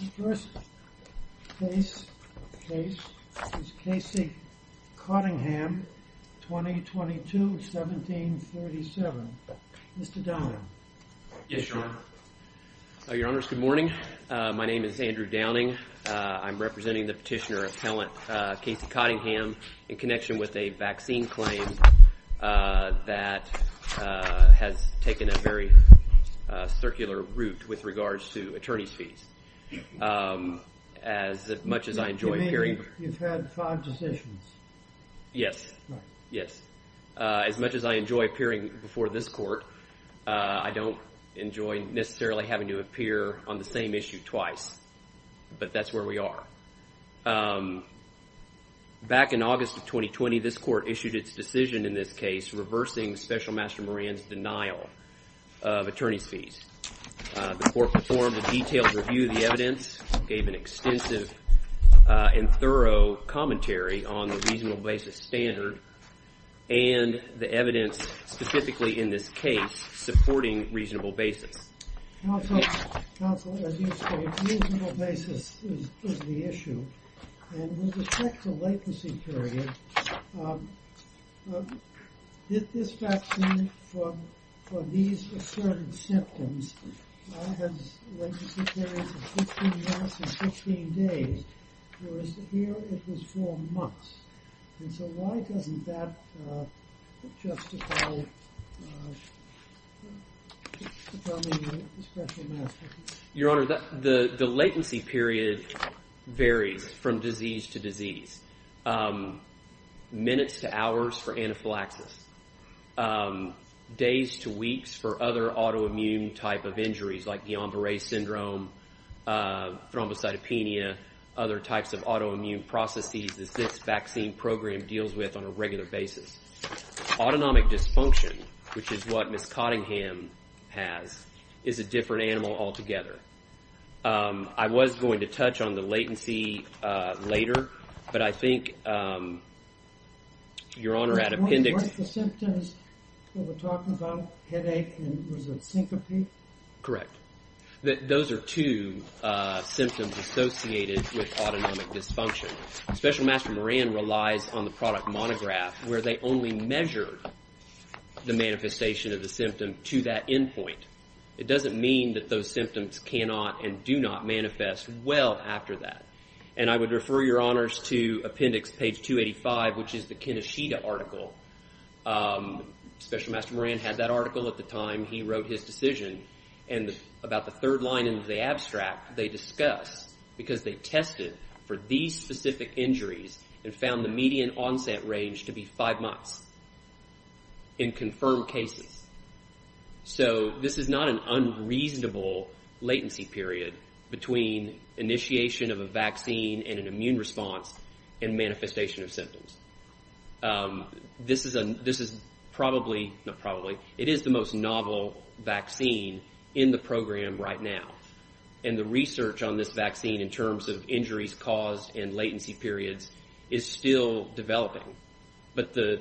The first case is Casey Cottingham, 2022-1737. Mr. Downing. Yes, Your Honor. Your Honors, good morning. My name is Andrew Downing. I'm representing the petitioner appellant Casey Cottingham in connection with a vaccine claim that has taken a very long time. As much as I enjoy appearing. You've had five decisions. Yes, yes. As much as I enjoy appearing before this court, I don't enjoy necessarily having to appear on the same issue twice, but that's where we are. Back in August of 2020, this court issued its decision in this case reversing Special Master Moran's denial of attorney's fees. The court performed a detailed review of the evidence, gave an extensive and thorough commentary on the reasonable basis standard and the evidence specifically in this case supporting reasonable basis. Counsel, as you state, reasonable basis is the issue. And with respect to latency period, this vaccine for these assertive symptoms has latency periods of 15 months and 15 days, whereas here it is four months. And so why doesn't that justify determining a special master? Your Honor, the latency period varies from disease to disease. Minutes to hours for anaphylaxis. Days to weeks for other autoimmune type of injuries like Guillain-Barre syndrome, thrombocytopenia, other types of autoimmune processes that this vaccine program deals with on a regular basis. Autonomic dysfunction, which is what Ms. Cottingham has, is a different animal altogether. I was going to touch on the latency later, but I think, Your Honor, at appendix... symptoms associated with autonomic dysfunction. Special Master Moran relies on the product monograph, where they only measure the manifestation of the symptom to that endpoint. It doesn't mean that those symptoms cannot and do not manifest well after that. And I would refer Your Honors to appendix page 285, which is the Keneshita article. Special Master Moran had that article at the time he wrote his decision. And about the third line in the abstract, they discuss, because they tested for these specific injuries and found the median onset range to be five months in confirmed cases. So this is not an unreasonable latency period between initiation of a vaccine and an immune response and manifestation of symptoms. This is probably, not probably, it is the most novel vaccine in the program right now. And the research on this vaccine in terms of injuries caused and latency periods is still developing. But the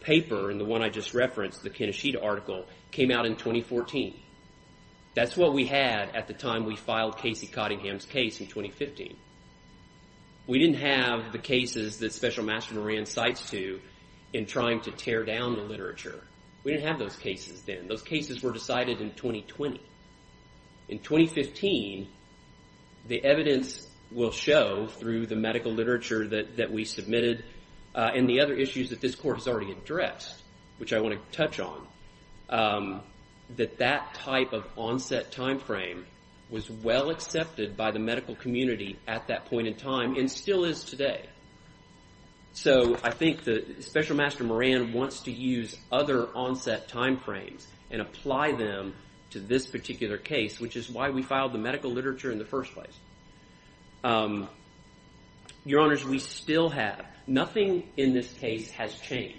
paper and the one I just referenced, the Keneshita article, came out in 2014. That's what we had at the time we filed Casey Cottingham's case in 2015. We didn't have the cases that Special Master Moran cites to in trying to tear down the literature. We didn't have those cases then. Those cases were decided in 2020. In 2015, the evidence will show through the medical literature that we submitted and the other issues that this court has already addressed, which I want to touch on, that that type of onset time frame was well accepted by the medical community at that point in time and still is today. So I think that Special Master Moran wants to use other onset time frames and apply them to this particular case, which is why we filed the medical literature in the first place. Your Honors, we still have, nothing in this case has changed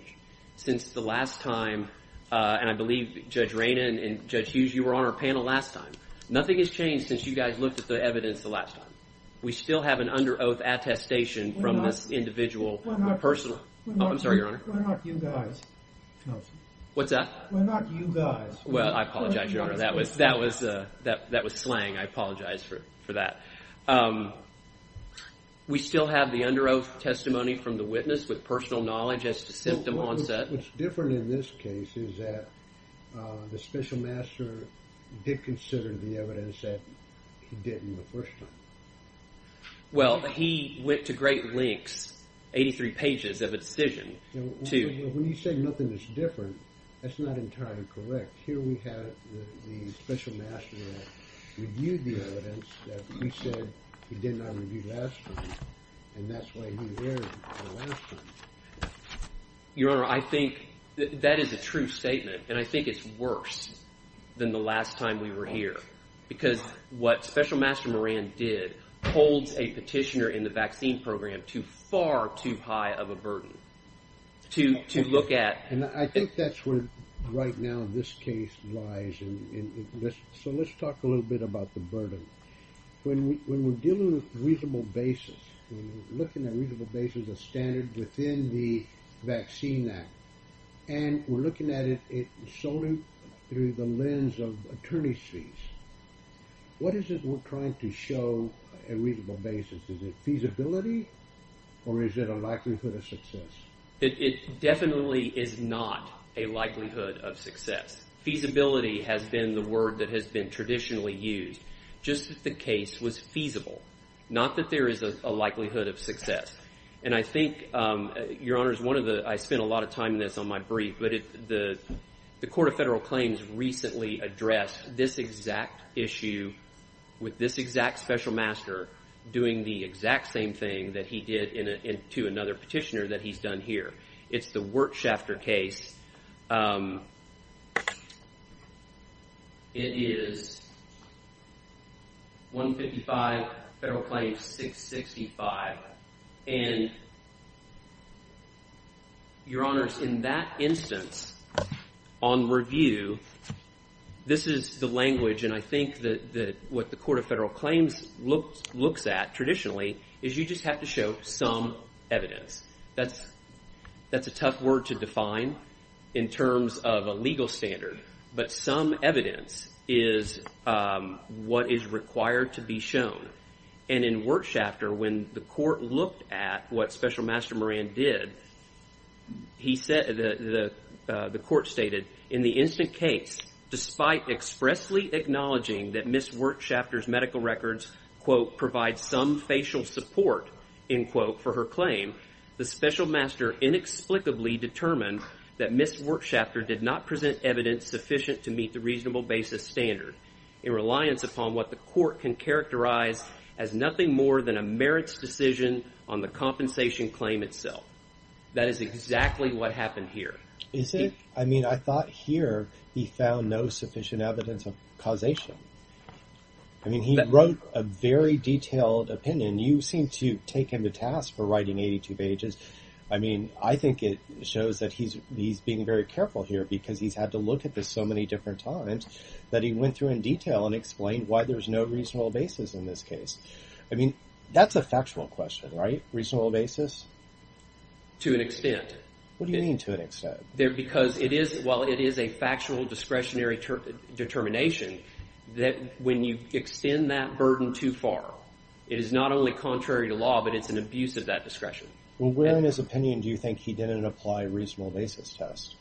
since the last time, and I believe Judge Rayna and Judge Hughes, you were on our panel last time. Nothing has changed since you guys looked at the evidence the last time. We still have an under oath attestation from this individual. We're not you guys, counsel. What's that? We're not you guys. Well, I apologize, Your Honor. That was slang. I apologize for that. We still have the under oath testimony from the witness with personal knowledge as to symptom onset. What's different in this case is that the Special Master did consider the evidence that he didn't the first time. Well, he went to great lengths, 83 pages of attestation. When you say nothing is different, that's not entirely correct. Here we have the Special Master that reviewed the evidence that he said he did not review last time, and that's why he erred the last time. Your Honor, I think that is a true statement, and I think it's worse than the last time we were here because what Special Master Moran did holds a petitioner in the vaccine program far too high of a burden to look at. And I think that's where right now this case lies. So let's talk a little bit about the burden. When we're dealing with reasonable basis, when we're looking at reasonable basis as a standard within the Vaccine Act and we're looking at it solely through the lens of attorney's fees, what is it we're trying to show a reasonable basis? Is it feasibility or is it a likelihood of success? It definitely is not a likelihood of success. Feasibility has been the word that has been traditionally used just that the case was feasible, not that there is a likelihood of success. And I think, Your Honor, I spent a lot of time in this on my brief, but the Court of Federal Claims recently addressed this exact issue with this exact Special Master doing the exact same thing that he did to another petitioner that he's done here. It's the Wertschafter case. It is 155 Federal Claims 665. And, Your Honors, in that instance on review, this is the language, and I think that what the Court of Federal Claims looks at traditionally is you just have to show some evidence. That's a tough word to define in terms of a legal standard, but some evidence is what is required to be shown. And in Wertschafter, when the Court looked at what Special Master Moran did, the Court stated in the instant case, despite expressly acknowledging that Ms. Wertschafter's medical records, quote, provide some facial support, end quote, for her claim, the Special Master inexplicably determined that Ms. Wertschafter did not present evidence sufficient to meet the reasonable basis standard in reliance upon what the Court can characterize as nothing more than a merits decision on the compensation claim itself. That is exactly what happened here. I mean, I thought here he found no sufficient evidence of causation. I mean, he wrote a very detailed opinion. You seem to take him to task for writing 82 pages. I mean, I think it shows that he's being very careful here because he's had to look at this so many different times that he went through in detail and explained why there's no reasonable basis in this case. I mean, that's a factual question, right? Reasonable basis? To an extent. What do you mean to an extent? Well, it is a factual discretionary determination that when you extend that burden too far, it is not only contrary to law, but it's an abuse of that discretion. Well, where in his opinion do you think he didn't apply a reasonable basis test?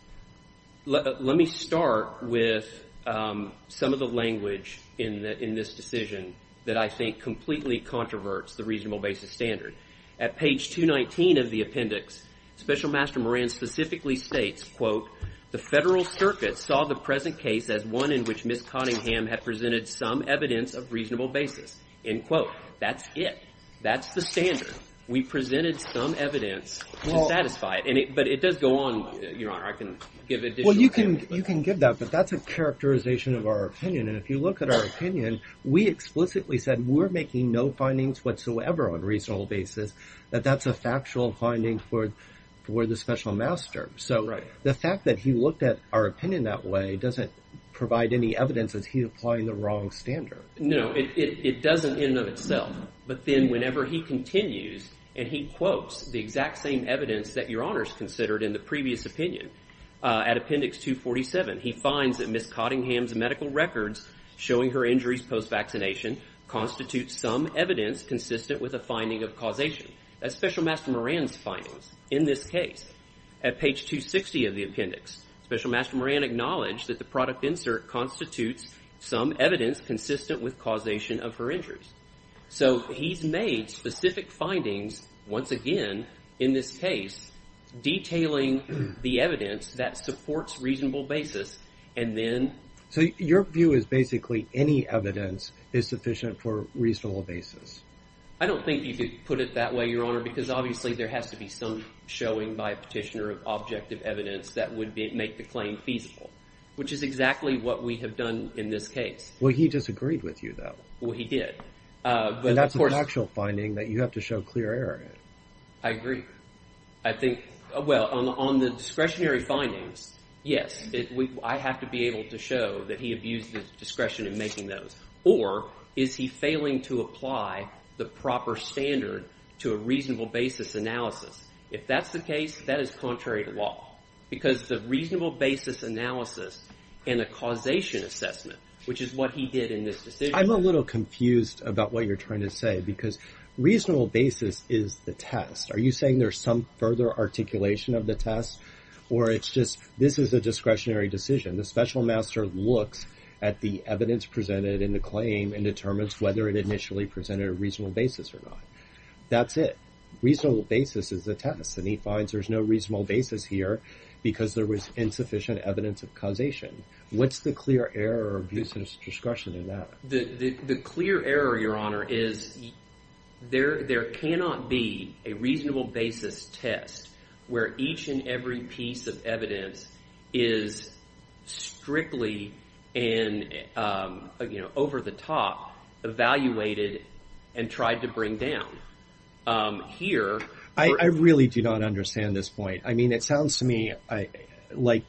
Let me start with some of the language in this decision that I think completely controverts the reasonable basis standard. At page 219 of the appendix, Special Master Moran specifically states, quote, the Federal Circuit saw the present case as one in which Ms. Cottingham had presented some evidence of reasonable basis. End quote. That's it. That's the standard. We presented some evidence to satisfy it. But it does go on. I can give additional evidence. Well, you can give that, but that's a characterization of our opinion. And if you look at our opinion, we explicitly said we're making no findings whatsoever on a reasonable basis, that that's a factual finding for the Special Master. So the fact that he looked at our opinion that way doesn't provide any evidence that he's applying the wrong standard. No, it doesn't in and of itself. But then whenever he continues, and he quotes the exact same evidence that Your Honors considered in the previous opinion at appendix 247, he finds that Ms. Cottingham's medical records showing her injuries post-vaccination constitute some evidence consistent with a finding of causation. That's Special Master Moran's findings in this case. At page 260 of the appendix, Special Master Moran acknowledged that the product insert constitutes some evidence consistent with causation of her injuries. So he's made specific findings, once again, in this case, detailing the evidence that supports reasonable basis, and then... So your view is basically any evidence is sufficient for a reasonable basis. I don't think you could put it that way, Your Honor, because obviously there has to be some showing by a petitioner of objective evidence that would make the claim feasible, which is exactly what we have done in this case. Well, he disagreed with you, though. Well, he did. And that's a factual finding that you have to show clear error in. I agree. I think – well, on the discretionary findings, yes. I have to be able to show that he abused his discretion in making those. Or is he failing to apply the proper standard to a reasonable basis analysis? If that's the case, that is contrary to law because the reasonable basis analysis and the causation assessment, which is what he did in this decision... I'm a little confused about what you're trying to say because reasonable basis is the test. Are you saying there's some further articulation of the test? Or it's just this is a discretionary decision. The special master looks at the evidence presented in the claim and determines whether it initially presented a reasonable basis or not. That's it. Reasonable basis is the test, and he finds there's no reasonable basis here because there was insufficient evidence of causation. What's the clear error of using discretion in that? The clear error, Your Honor, is there cannot be a reasonable basis test where each and every piece of evidence is strictly over the top, evaluated, and tried to bring down. I really do not understand this point. I mean, it sounds to me like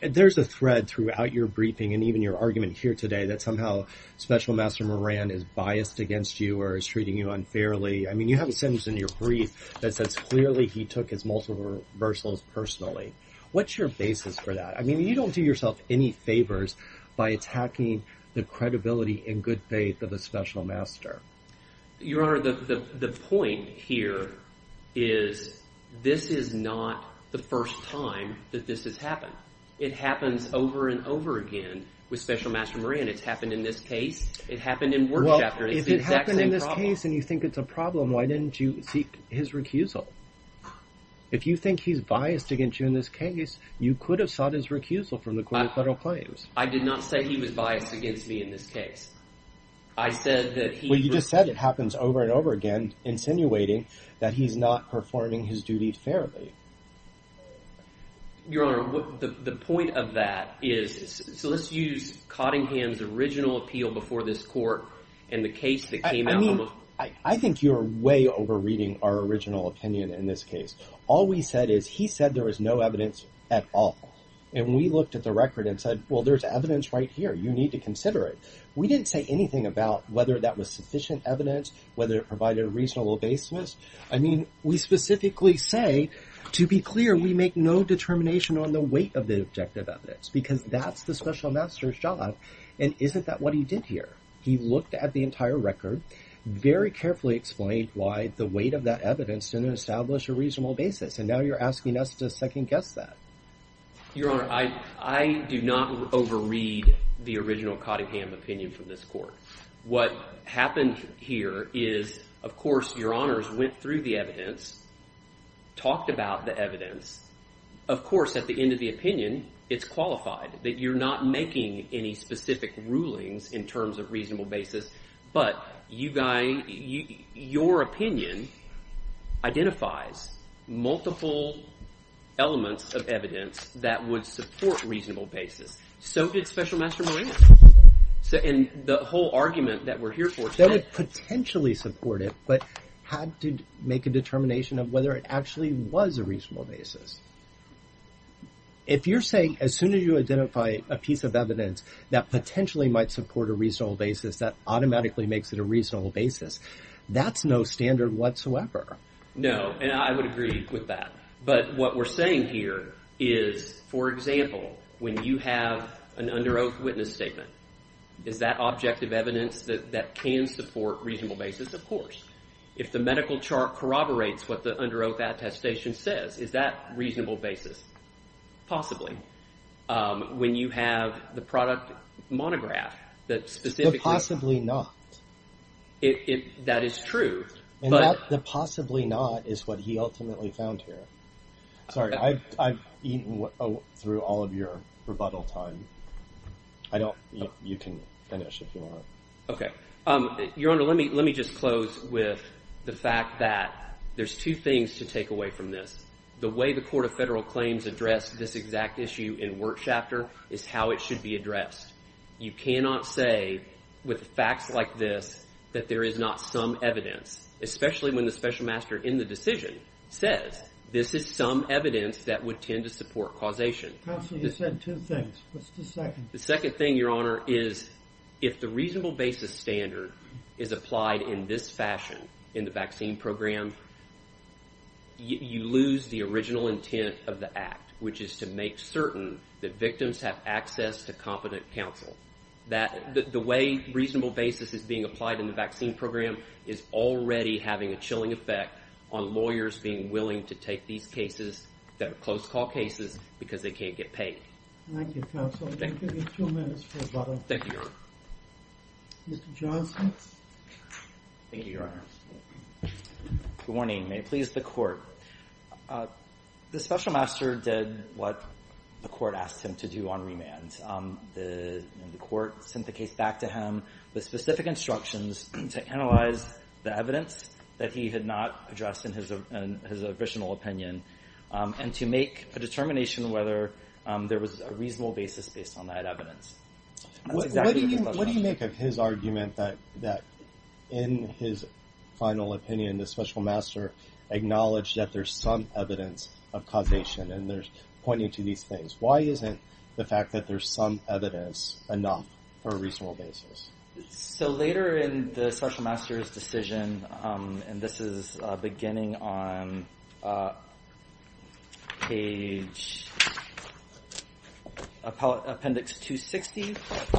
there's a thread throughout your briefing and even your argument here today that somehow Special Master Moran is biased against you or is treating you unfairly. I mean, you have a sentence in your brief that says clearly he took his multiple reversals personally. What's your basis for that? I mean, you don't do yourself any favors by attacking the credibility and good faith of the special master. Your Honor, the point here is this is not the first time that this has happened. It happens over and over again with Special Master Moran. It's happened in this case. It happened in work chapter. It's the exact same problem. Well, if it happened in this case and you think it's a problem, why didn't you seek his recusal? If you think he's biased against you in this case, you could have sought his recusal from the court of federal claims. I did not say he was biased against me in this case. I said that he… Well, you just said it happens over and over again, insinuating that he's not performing his duty fairly. Your Honor, the point of that is – so let's use Cottingham's original appeal before this court and the case that came out. I think you're way overreading our original opinion in this case. All we said is he said there was no evidence at all, and we looked at the record and said, well, there's evidence right here. You need to consider it. We didn't say anything about whether that was sufficient evidence, whether it provided a reasonable basis. I mean, we specifically say, to be clear, we make no determination on the weight of the objective evidence because that's the special master's job, and isn't that what he did here? He looked at the entire record, very carefully explained why the weight of that evidence didn't establish a reasonable basis, and now you're asking us to second-guess that. Your Honor, I do not overread the original Cottingham opinion from this court. What happened here is, of course, Your Honors went through the evidence, talked about the evidence. Of course, at the end of the opinion, it's qualified that you're not making any specific rulings in terms of reasonable basis, but your opinion identifies multiple elements of evidence that would support reasonable basis. So did Special Master Moran. And the whole argument that we're here for today— That would potentially support it, but had to make a determination of whether it actually was a reasonable basis. If you're saying, as soon as you identify a piece of evidence that potentially might support a reasonable basis, that automatically makes it a reasonable basis, that's no standard whatsoever. No, and I would agree with that. But what we're saying here is, for example, when you have an under oath witness statement, is that objective evidence that can support reasonable basis? Of course. If the medical chart corroborates what the under oath attestation says, is that reasonable basis? Possibly. When you have the product monograph that specifically— The possibly not. That is true, but— The possibly not is what he ultimately found here. Sorry, I've eaten through all of your rebuttal time. I don't—you can finish if you want. Okay. Your Honor, let me just close with the fact that there's two things to take away from this. The way the Court of Federal Claims addressed this exact issue in Wertschafter is how it should be addressed. You cannot say with facts like this that there is not some evidence, especially when the special master in the decision says this is some evidence that would tend to support causation. Counsel, you said two things. What's the second? The second thing, Your Honor, is if the reasonable basis standard is applied in this fashion in the vaccine program, you lose the original intent of the act, which is to make certain that victims have access to competent counsel. The way reasonable basis is being applied in the vaccine program is already having a chilling effect on lawyers being willing to take these cases that are close call cases because they can't get paid. Thank you, Counsel. I'll give you two minutes for rebuttal. Thank you, Your Honor. Mr. Johnson? Thank you, Your Honor. Good morning. May it please the Court. The special master did what the Court asked him to do on remand. The Court sent the case back to him with specific instructions to analyze the evidence that he had not addressed in his original opinion and to make a determination whether there was a reasonable basis based on that evidence. What do you make of his argument that in his final opinion, the special master acknowledged that there's some evidence of causation and pointing to these things? Why isn't the fact that there's some evidence enough for a reasonable basis? So later in the special master's decision, and this is beginning on page appendix 260,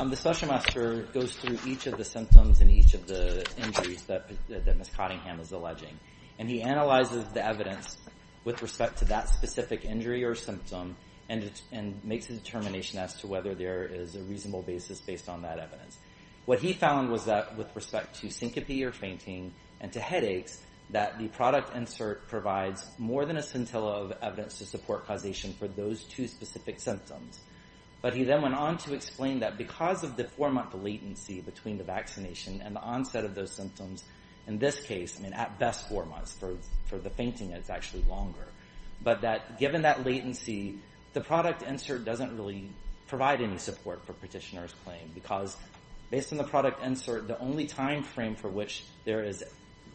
the special master goes through each of the symptoms and each of the injuries that Ms. Cottingham is alleging, and he analyzes the evidence with respect to that specific injury or symptom and makes a determination as to whether there is a reasonable basis based on that evidence. What he found was that with respect to syncope or fainting and to headaches, that the product insert provides more than a scintilla of evidence to support causation for those two specific symptoms. But he then went on to explain that because of the four-month latency between the vaccination and the onset of those symptoms, in this case, I mean, at best four months, for the fainting it's actually longer, but that given that latency, the product insert doesn't really provide any support for petitioner's claim because based on the product insert, the only time frame for which there is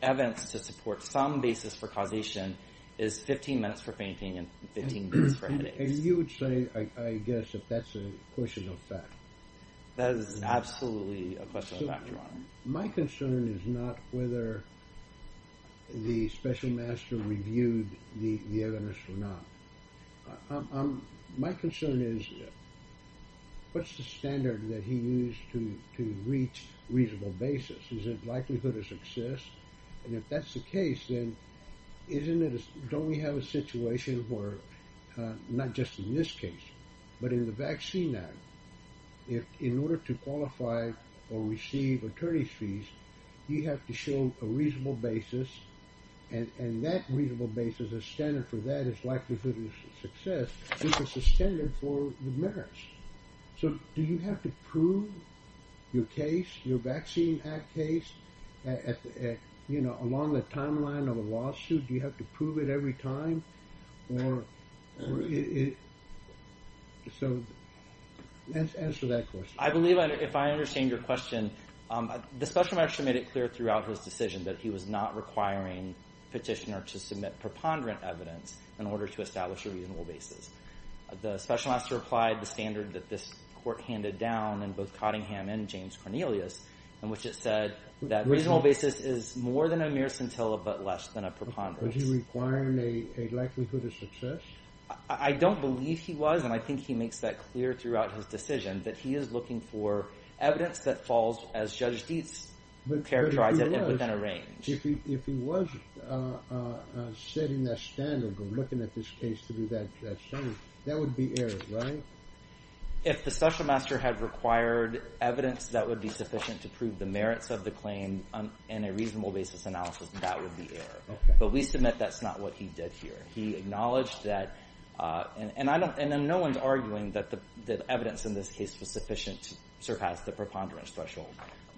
evidence to support some basis for causation is 15 minutes for fainting and 15 minutes for headaches. And you would say, I guess, that that's a question of fact. That is absolutely a question of fact, Your Honor. My concern is not whether the special master reviewed the evidence or not. My concern is what's the standard that he used to reach reasonable basis? Is it likelihood of success? And if that's the case, then don't we have a situation where, not just in this case, but in the Vaccine Act, if in order to qualify or receive attorney's fees, you have to show a reasonable basis, and that reasonable basis, a standard for that is likelihood of success, which is a standard for the merits. So do you have to prove your case, your Vaccine Act case, along the timeline of a lawsuit? Do you have to prove it every time? Answer that question. I believe if I understand your question, the special master made it clear throughout his decision that he was not requiring petitioner to submit preponderant evidence in order to establish a reasonable basis. The special master applied the standard that this court handed down in both Cottingham and James Cornelius, in which it said that reasonable basis is more than a mere scintilla, but less than a preponderance. Was he requiring a likelihood of success? I don't believe he was, and I think he makes that clear throughout his decision, that he is looking for evidence that falls, as Judge Dietz characterized it, within a range. But if he was, if he was setting that standard or looking at this case to do that study, that would be error, right? If the special master had required evidence that would be sufficient to prove the merits of the claim in a reasonable basis analysis, that would be error. But we submit that's not what he did here. He acknowledged that, and no one's arguing that the evidence in this case was sufficient to surpass the preponderance threshold.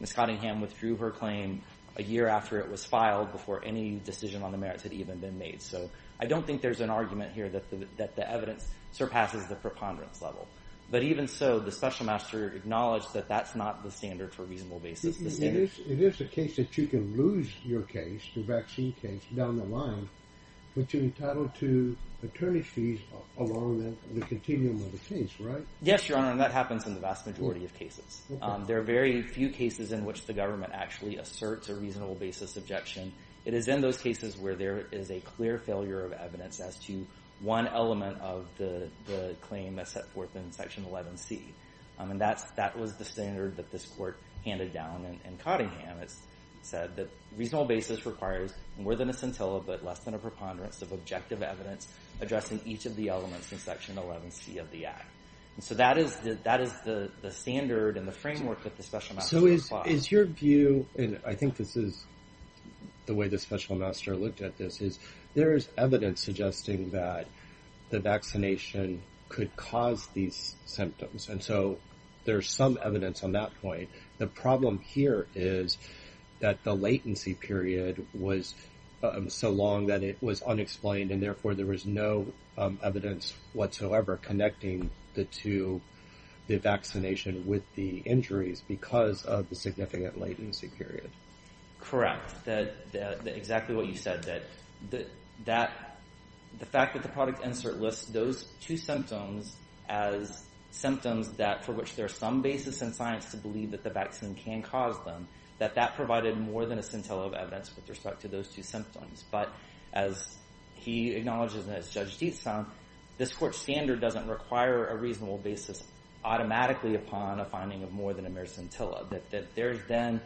Ms. Cottingham withdrew her claim a year after it was filed before any decision on the merits had even been made. So I don't think there's an argument here that the evidence surpasses the preponderance level. But even so, the special master acknowledged that that's not the standard for reasonable basis. It is a case that you can lose your case, your vaccine case, down the line, but you're entitled to attorney fees along the continuum of the case, right? Yes, Your Honor, and that happens in the vast majority of cases. There are very few cases in which the government actually asserts a reasonable basis objection. It is in those cases where there is a clear failure of evidence as to one element of the claim as set forth in Section 11C. And that was the standard that this court handed down in Cottingham. It said that reasonable basis requires of objective evidence addressing each of the elements in Section 11C of the act. And so that is the standard and the framework that the special master- So is your view, and I think this is the way the special master looked at this, is there is evidence suggesting that the vaccination could cause these symptoms. And so there's some evidence on that point. The problem here is that the latency period was so long that it was unexplained and therefore there was no evidence whatsoever connecting the two, the vaccination with the injuries because of the significant latency period. Correct, exactly what you said, that the fact that the product insert lists those two symptoms as symptoms for which there's some basis in science to believe that the vaccine can cause them, with respect to those two symptoms. But as he acknowledges, and as Judge Dietz found, this court standard doesn't require a reasonable basis automatically upon a finding of more than a mericentilla. That there's then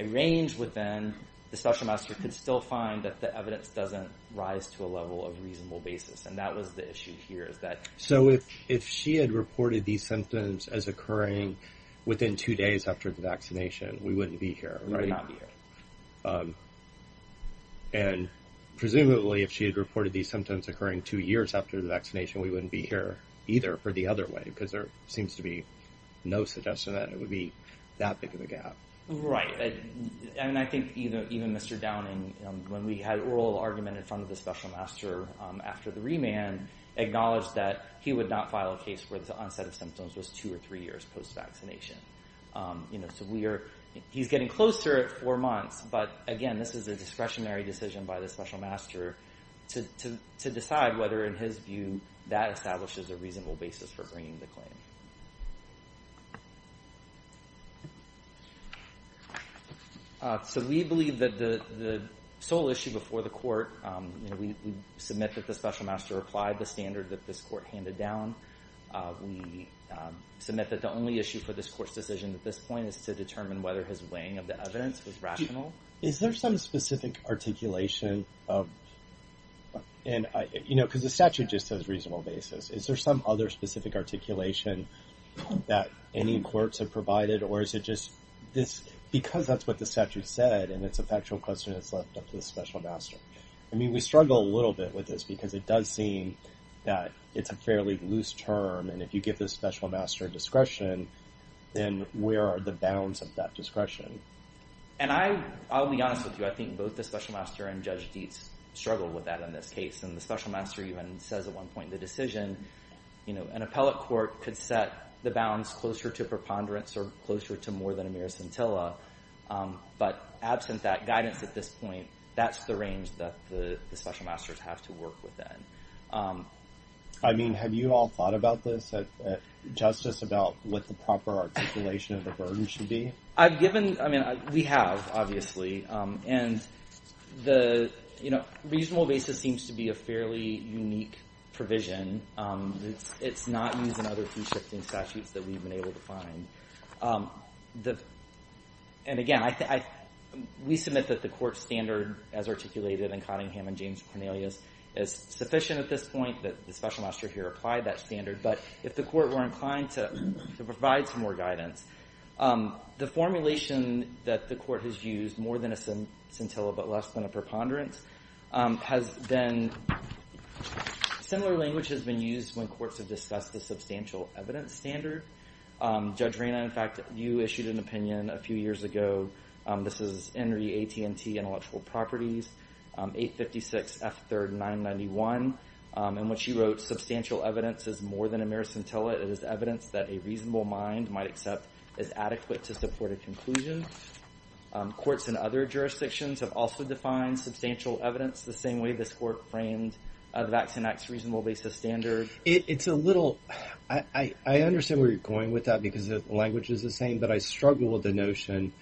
a range within, the special master could still find that the evidence doesn't rise to a level of reasonable basis. And that was the issue here, is that- So if she had reported these symptoms as occurring within two days after the vaccination, we wouldn't be here, right? We would not be here. And presumably if she had reported these symptoms occurring two years after the vaccination, we wouldn't be here either for the other way because there seems to be no suggestion that it would be that big of a gap. Right, and I think even Mr. Downing, when we had oral argument in front of the special master after the remand, acknowledged that he would not file a case where the onset of symptoms was two or three years post-vaccination. So we are, he's getting closer at four months, but again, this is a discretionary decision by the special master to decide whether in his view that establishes a reasonable basis for bringing the claim. So we believe that the sole issue before the court, we submit that the special master applied the standard that this court handed down. We submit that the only issue for this court's decision at this point is to determine whether his weighing of the evidence was rational. Is there some specific articulation of, you know, because the statute just says reasonable basis. Is there some other specific articulation that any courts have provided or is it just this, because that's what the statute said and it's a factual question that's left up to the special master. I mean, we struggle a little bit with this because it does seem that it's a fairly loose term and if you give the special master discretion, then where are the bounds of that discretion? And I'll be honest with you. I think both the special master and Judge Dietz struggled with that in this case and the special master even says at one point in the decision, you know, an appellate court could set the bounds closer to preponderance or closer to more than a mere scintilla, but absent that guidance at this point, that's the range that the special masters have to work within. I mean, have you all thought about this, Justice, about what the proper articulation of the burden should be? I've given, I mean, we have, obviously, and the, you know, reasonable basis seems to be a fairly unique provision. It's not used in other fee-shifting statutes that we've been able to find. And again, we submit that the court standard as articulated in Cottingham and James Cornelius is sufficient at this point that the special master here applied that standard, but if the court were inclined to provide some more guidance, the formulation that the court has used more than a scintilla but less than a preponderance has been, similar language has been used when courts have discussed a substantial evidence standard. Judge Reyna, in fact, you issued an opinion a few years ago. This is Henry AT&T Intellectual Properties, 856 F3rd 991, in which you wrote, substantial evidence is more than a mere scintilla. It is evidence that a reasonable mind might accept is adequate to support a conclusion. Courts in other jurisdictions have also defined substantial evidence the same way this court framed the Vaccine Act's reasonable basis standard. It's a little, I understand where you're going with that because the language is the same, but I struggle with the notion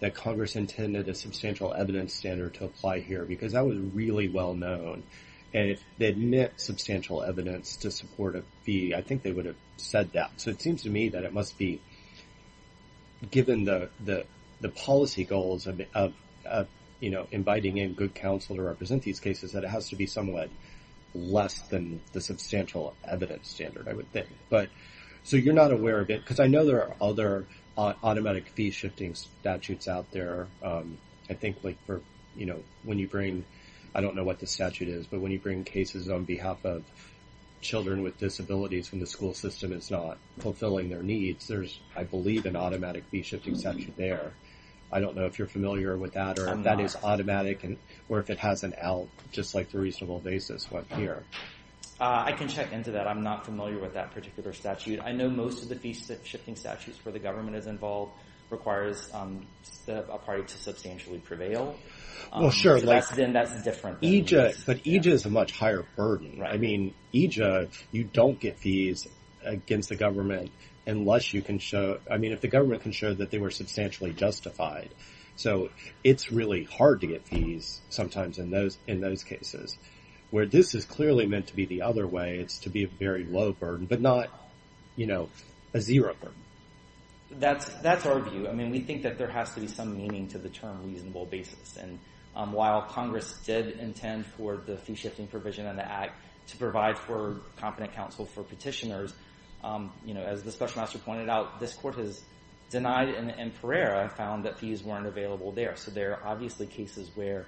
that Congress intended a substantial evidence standard to apply here because that was really well-known, and if they had meant substantial evidence to support a fee, I think they would have said that. So it seems to me that it must be, given the policy goals of, you know, inviting in good counsel to represent these cases, that it has to be somewhat less than the substantial evidence standard, I would think. But so you're not aware of it because I know there are other automatic fee-shifting statutes out there. I think, like, for, you know, when you bring, I don't know what the statute is, but when you bring cases on behalf of children with disabilities when the school system is not fulfilling their needs, there's, I believe, an automatic fee-shifting statute there. I don't know if you're familiar with that or if that is automatic or if it has an L, just like the reasonable basis one here. I can check into that. I'm not familiar with that particular statute. I know most of the fee-shifting statutes where the government is involved requires a party to substantially prevail. Well, sure. So that's different. But EJA is a much higher burden. I mean, EJA, you don't get fees against the government unless you can show... I mean, if the government can show that they were substantially justified. So it's really hard to get fees sometimes in those cases, where this is clearly meant to be the other way. It's to be a very low burden, but not, you know, a zero burden. That's our view. I mean, we think that there has to be some meaning to the term reasonable basis. And while Congress did intend for the fee-shifting provision in the Act to provide for competent counsel for petitioners, you know, as the Special Master pointed out, this Court has denied it in Pereira and found that fees weren't available there. So there are obviously cases where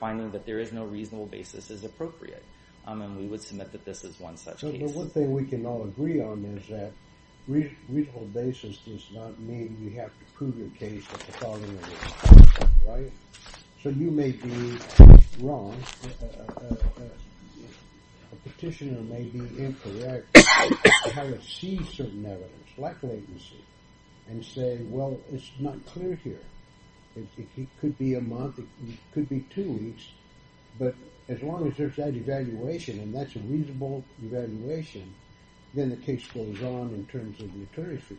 finding that there is no reasonable basis is appropriate. And we would submit that this is one such case. Well, one thing we can all agree on is that reasonable basis does not mean you have to prove your case at the following event. Right? So you may be wrong. A petitioner may be incorrect in how to see certain evidence, lack of latency, and say, well, it's not clear here. It could be a month. It could be two weeks. But as long as there's that evaluation and that's a reasonable evaluation, then the case goes on in terms of the attorney fees.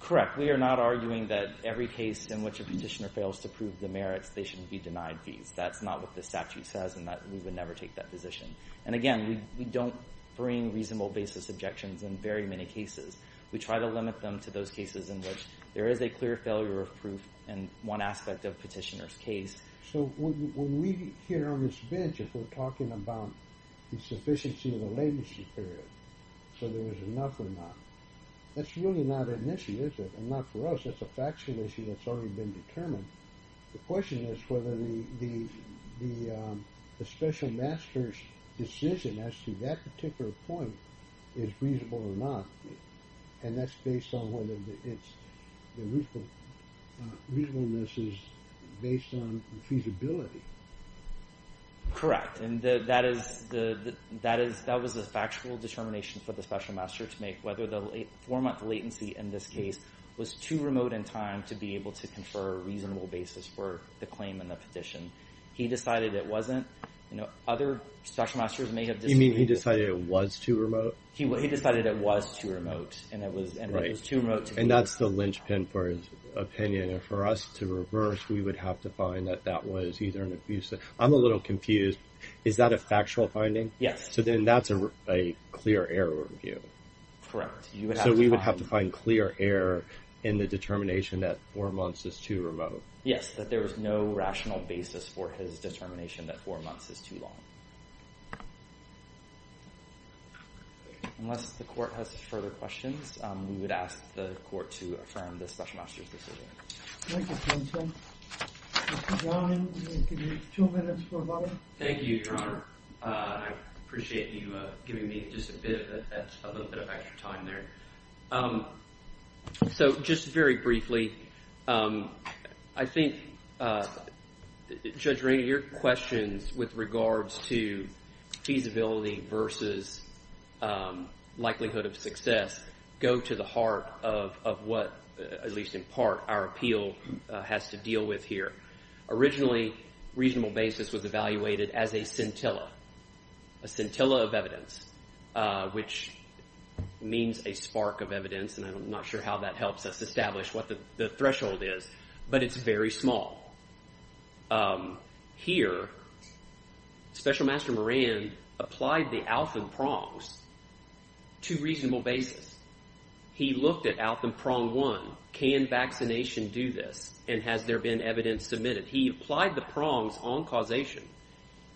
Correct. We are not arguing that every case in which a petitioner fails to prove the merits, they should be denied fees. That's not what the statute says and that we would never take that position. And again, we don't bring reasonable basis objections in very many cases. We try to limit them to those cases in which there is a clear failure of proof in one aspect of a petitioner's case. So when we hear on this bench, if we're talking about the sufficiency of the latency period, so there is enough or not, that's really not an issue, is it? And not for us. That's a facts commission that's already been determined. The question is whether the special master's decision as to that particular point is reasonable or not. And that's based on whether the reasonableness is based on feasibility. Correct. And that was a factual determination for the special master to make whether the four-month latency in this case was too remote in time to be able to confer a reasonable basis for the claim and the petition. He decided it wasn't. Other special masters may have disagreed. You mean he decided it was too remote? He decided it was too remote. And that's the linchpin for his opinion. And for us to reverse, we would have to find that that was either an abuse. I'm a little confused. Is that a factual finding? Yes. So then that's a clear error review. Correct. So we would have to find clear error in the determination that four months is too remote. Yes, that there is no rational basis for his determination that four months is too long. Unless the court has further questions, we would ask the court to affirm the special master's decision. Thank you, counsel. Mr. Browning, you have two minutes for a vote. Thank you, Your Honor. I appreciate you giving me just a little bit of extra time there. So just very briefly, I think, Judge Rainey, your questions with regards to feasibility versus likelihood of success go to the heart of what, at least in part, our appeal has to deal with here. Originally, reasonable basis was evaluated as a scintilla, a scintilla of evidence, which means a spark of evidence, and I'm not sure how that helps us establish what the threshold is, but it's very small. Here, Special Master Moran applied the Alton prongs to reasonable basis. He looked at Alton prong one. Can vaccination do this, and has there been evidence submitted? He applied the prongs on causation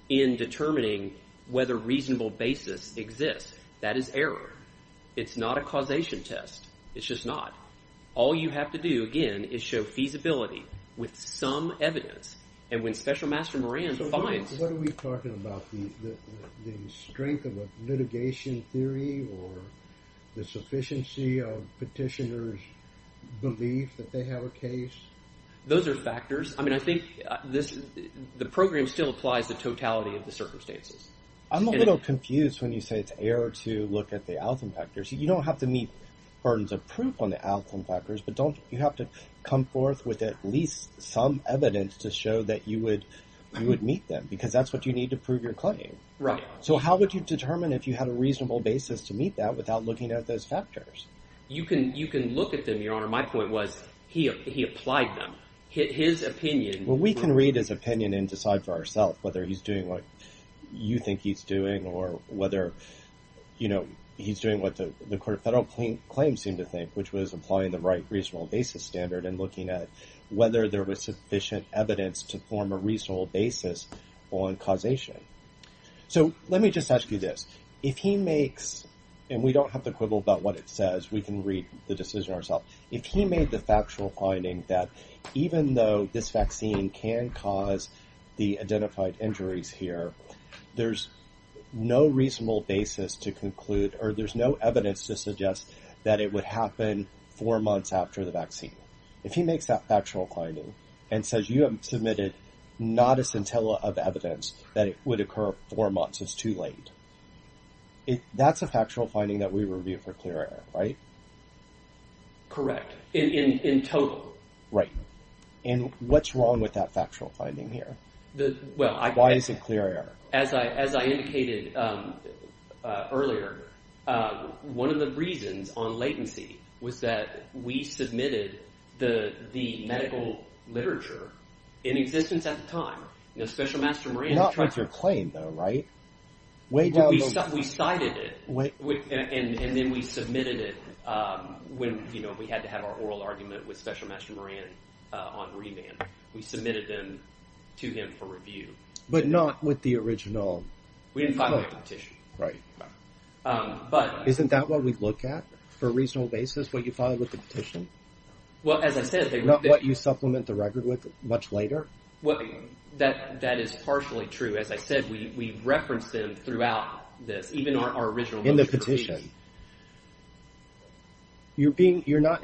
in determining whether reasonable basis exists. That is error. It's not a causation test. It's just not. All you have to do, again, is show feasibility with some evidence, and when Special Master Moran finds… So what are we talking about? The strength of a litigation theory or the sufficiency of petitioners' belief that they have a case? Those are factors. I mean, I think the program still applies the totality of the circumstances. I'm a little confused when you say it's error to look at the Alton factors. You don't have to meet burdens of proof on the Alton factors, but you have to come forth with at least some evidence to show that you would meet them because that's what you need to prove your claim. So how would you determine if you had a reasonable basis to meet that without looking at those factors? You can look at them, Your Honor. My point was he applied them. His opinion… Well, we can read his opinion and decide for ourselves whether he's doing what you think he's doing or whether he's doing what the Court of Federal Claims seemed to think, which was applying the right reasonable basis standard and looking at whether there was sufficient evidence to form a reasonable basis on causation. So let me just ask you this. If he makes… And we don't have the quibble about what it says. We can read the decision ourselves. If he made the factual finding that even though this vaccine can cause the identified injuries here, there's no reasonable basis to conclude or there's no evidence to suggest that it would happen four months after the vaccine. If he makes that factual finding and says you have submitted not a scintilla of evidence that it would occur four months, it's too late. That's a factual finding that we review for clear error, right? Correct. In total. Right. And what's wrong with that factual finding here? Why is it clear error? As I indicated earlier, one of the reasons on latency was that we submitted the medical literature in existence at the time. Special Master Moran… Not with your claim though, right? We cited it, and then we submitted it when we had to have our oral argument with Special Master Moran on remand. We submitted them to him for review. But not with the original… We didn't file a petition. Right. Isn't that what we look at for a reasonable basis, what you filed with the petition? Well, as I said… Not what you supplement the record with much later? That is partially true. As I said, we referenced them throughout this, even our original… In the petition. You're not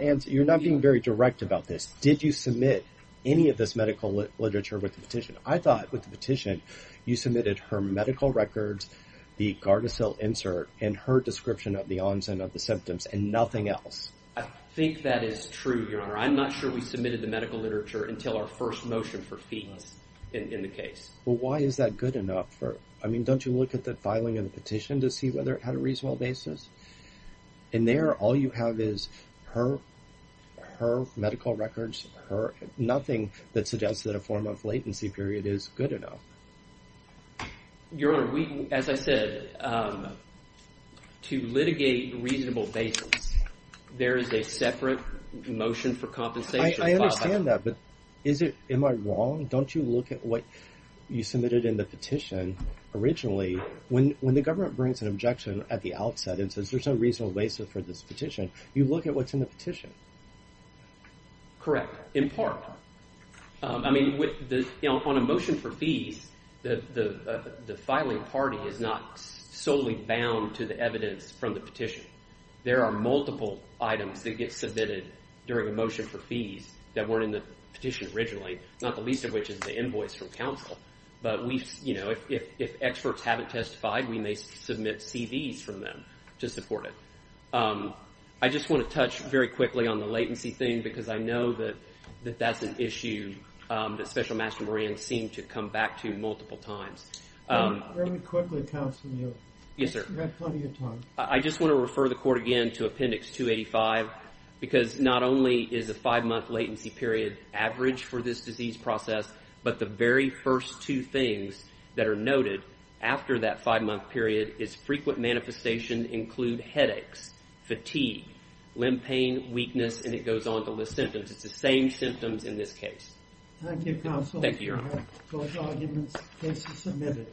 being very direct about this. Did you submit any of this medical literature with the petition? I thought with the petition, you submitted her medical records, the Gardasil insert, and her description of the onset of the symptoms, and nothing else. I think that is true, Your Honor. I'm not sure we submitted the medical literature until our first motion for fees in the case. Well, why is that good enough? I mean, don't you look at the filing of the petition to see whether it had a reasonable basis? And there, all you have is her medical records, nothing that suggests that a form of latency period is good enough. Your Honor, as I said, to litigate reasonable basis, there is a separate motion for compensation. I understand that, but am I wrong? Don't you look at what you submitted in the petition originally? When the government brings an objection at the outset and says there's no reasonable basis for this petition, Correct, in part. I mean, on a motion for fees, the filing party is not solely bound to the evidence from the petition. There are multiple items that get submitted during a motion for fees that weren't in the petition originally, not the least of which is the invoice from counsel. But if experts haven't testified, we may submit CVs from them to support it. I just want to touch very quickly on the latency thing because I know that that's an issue that Special Master Marines seem to come back to multiple times. Very quickly, counsel, you have plenty of time. I just want to refer the Court again to Appendix 285 because not only is a five-month latency period average for this disease process, but the very first two things that are noted after that five-month period is frequent manifestation include headaches, fatigue, limb pain, weakness, and it goes on to list symptoms. It's the same symptoms in this case. Thank you, counsel. Thank you, Your Honor. Those arguments are submitted.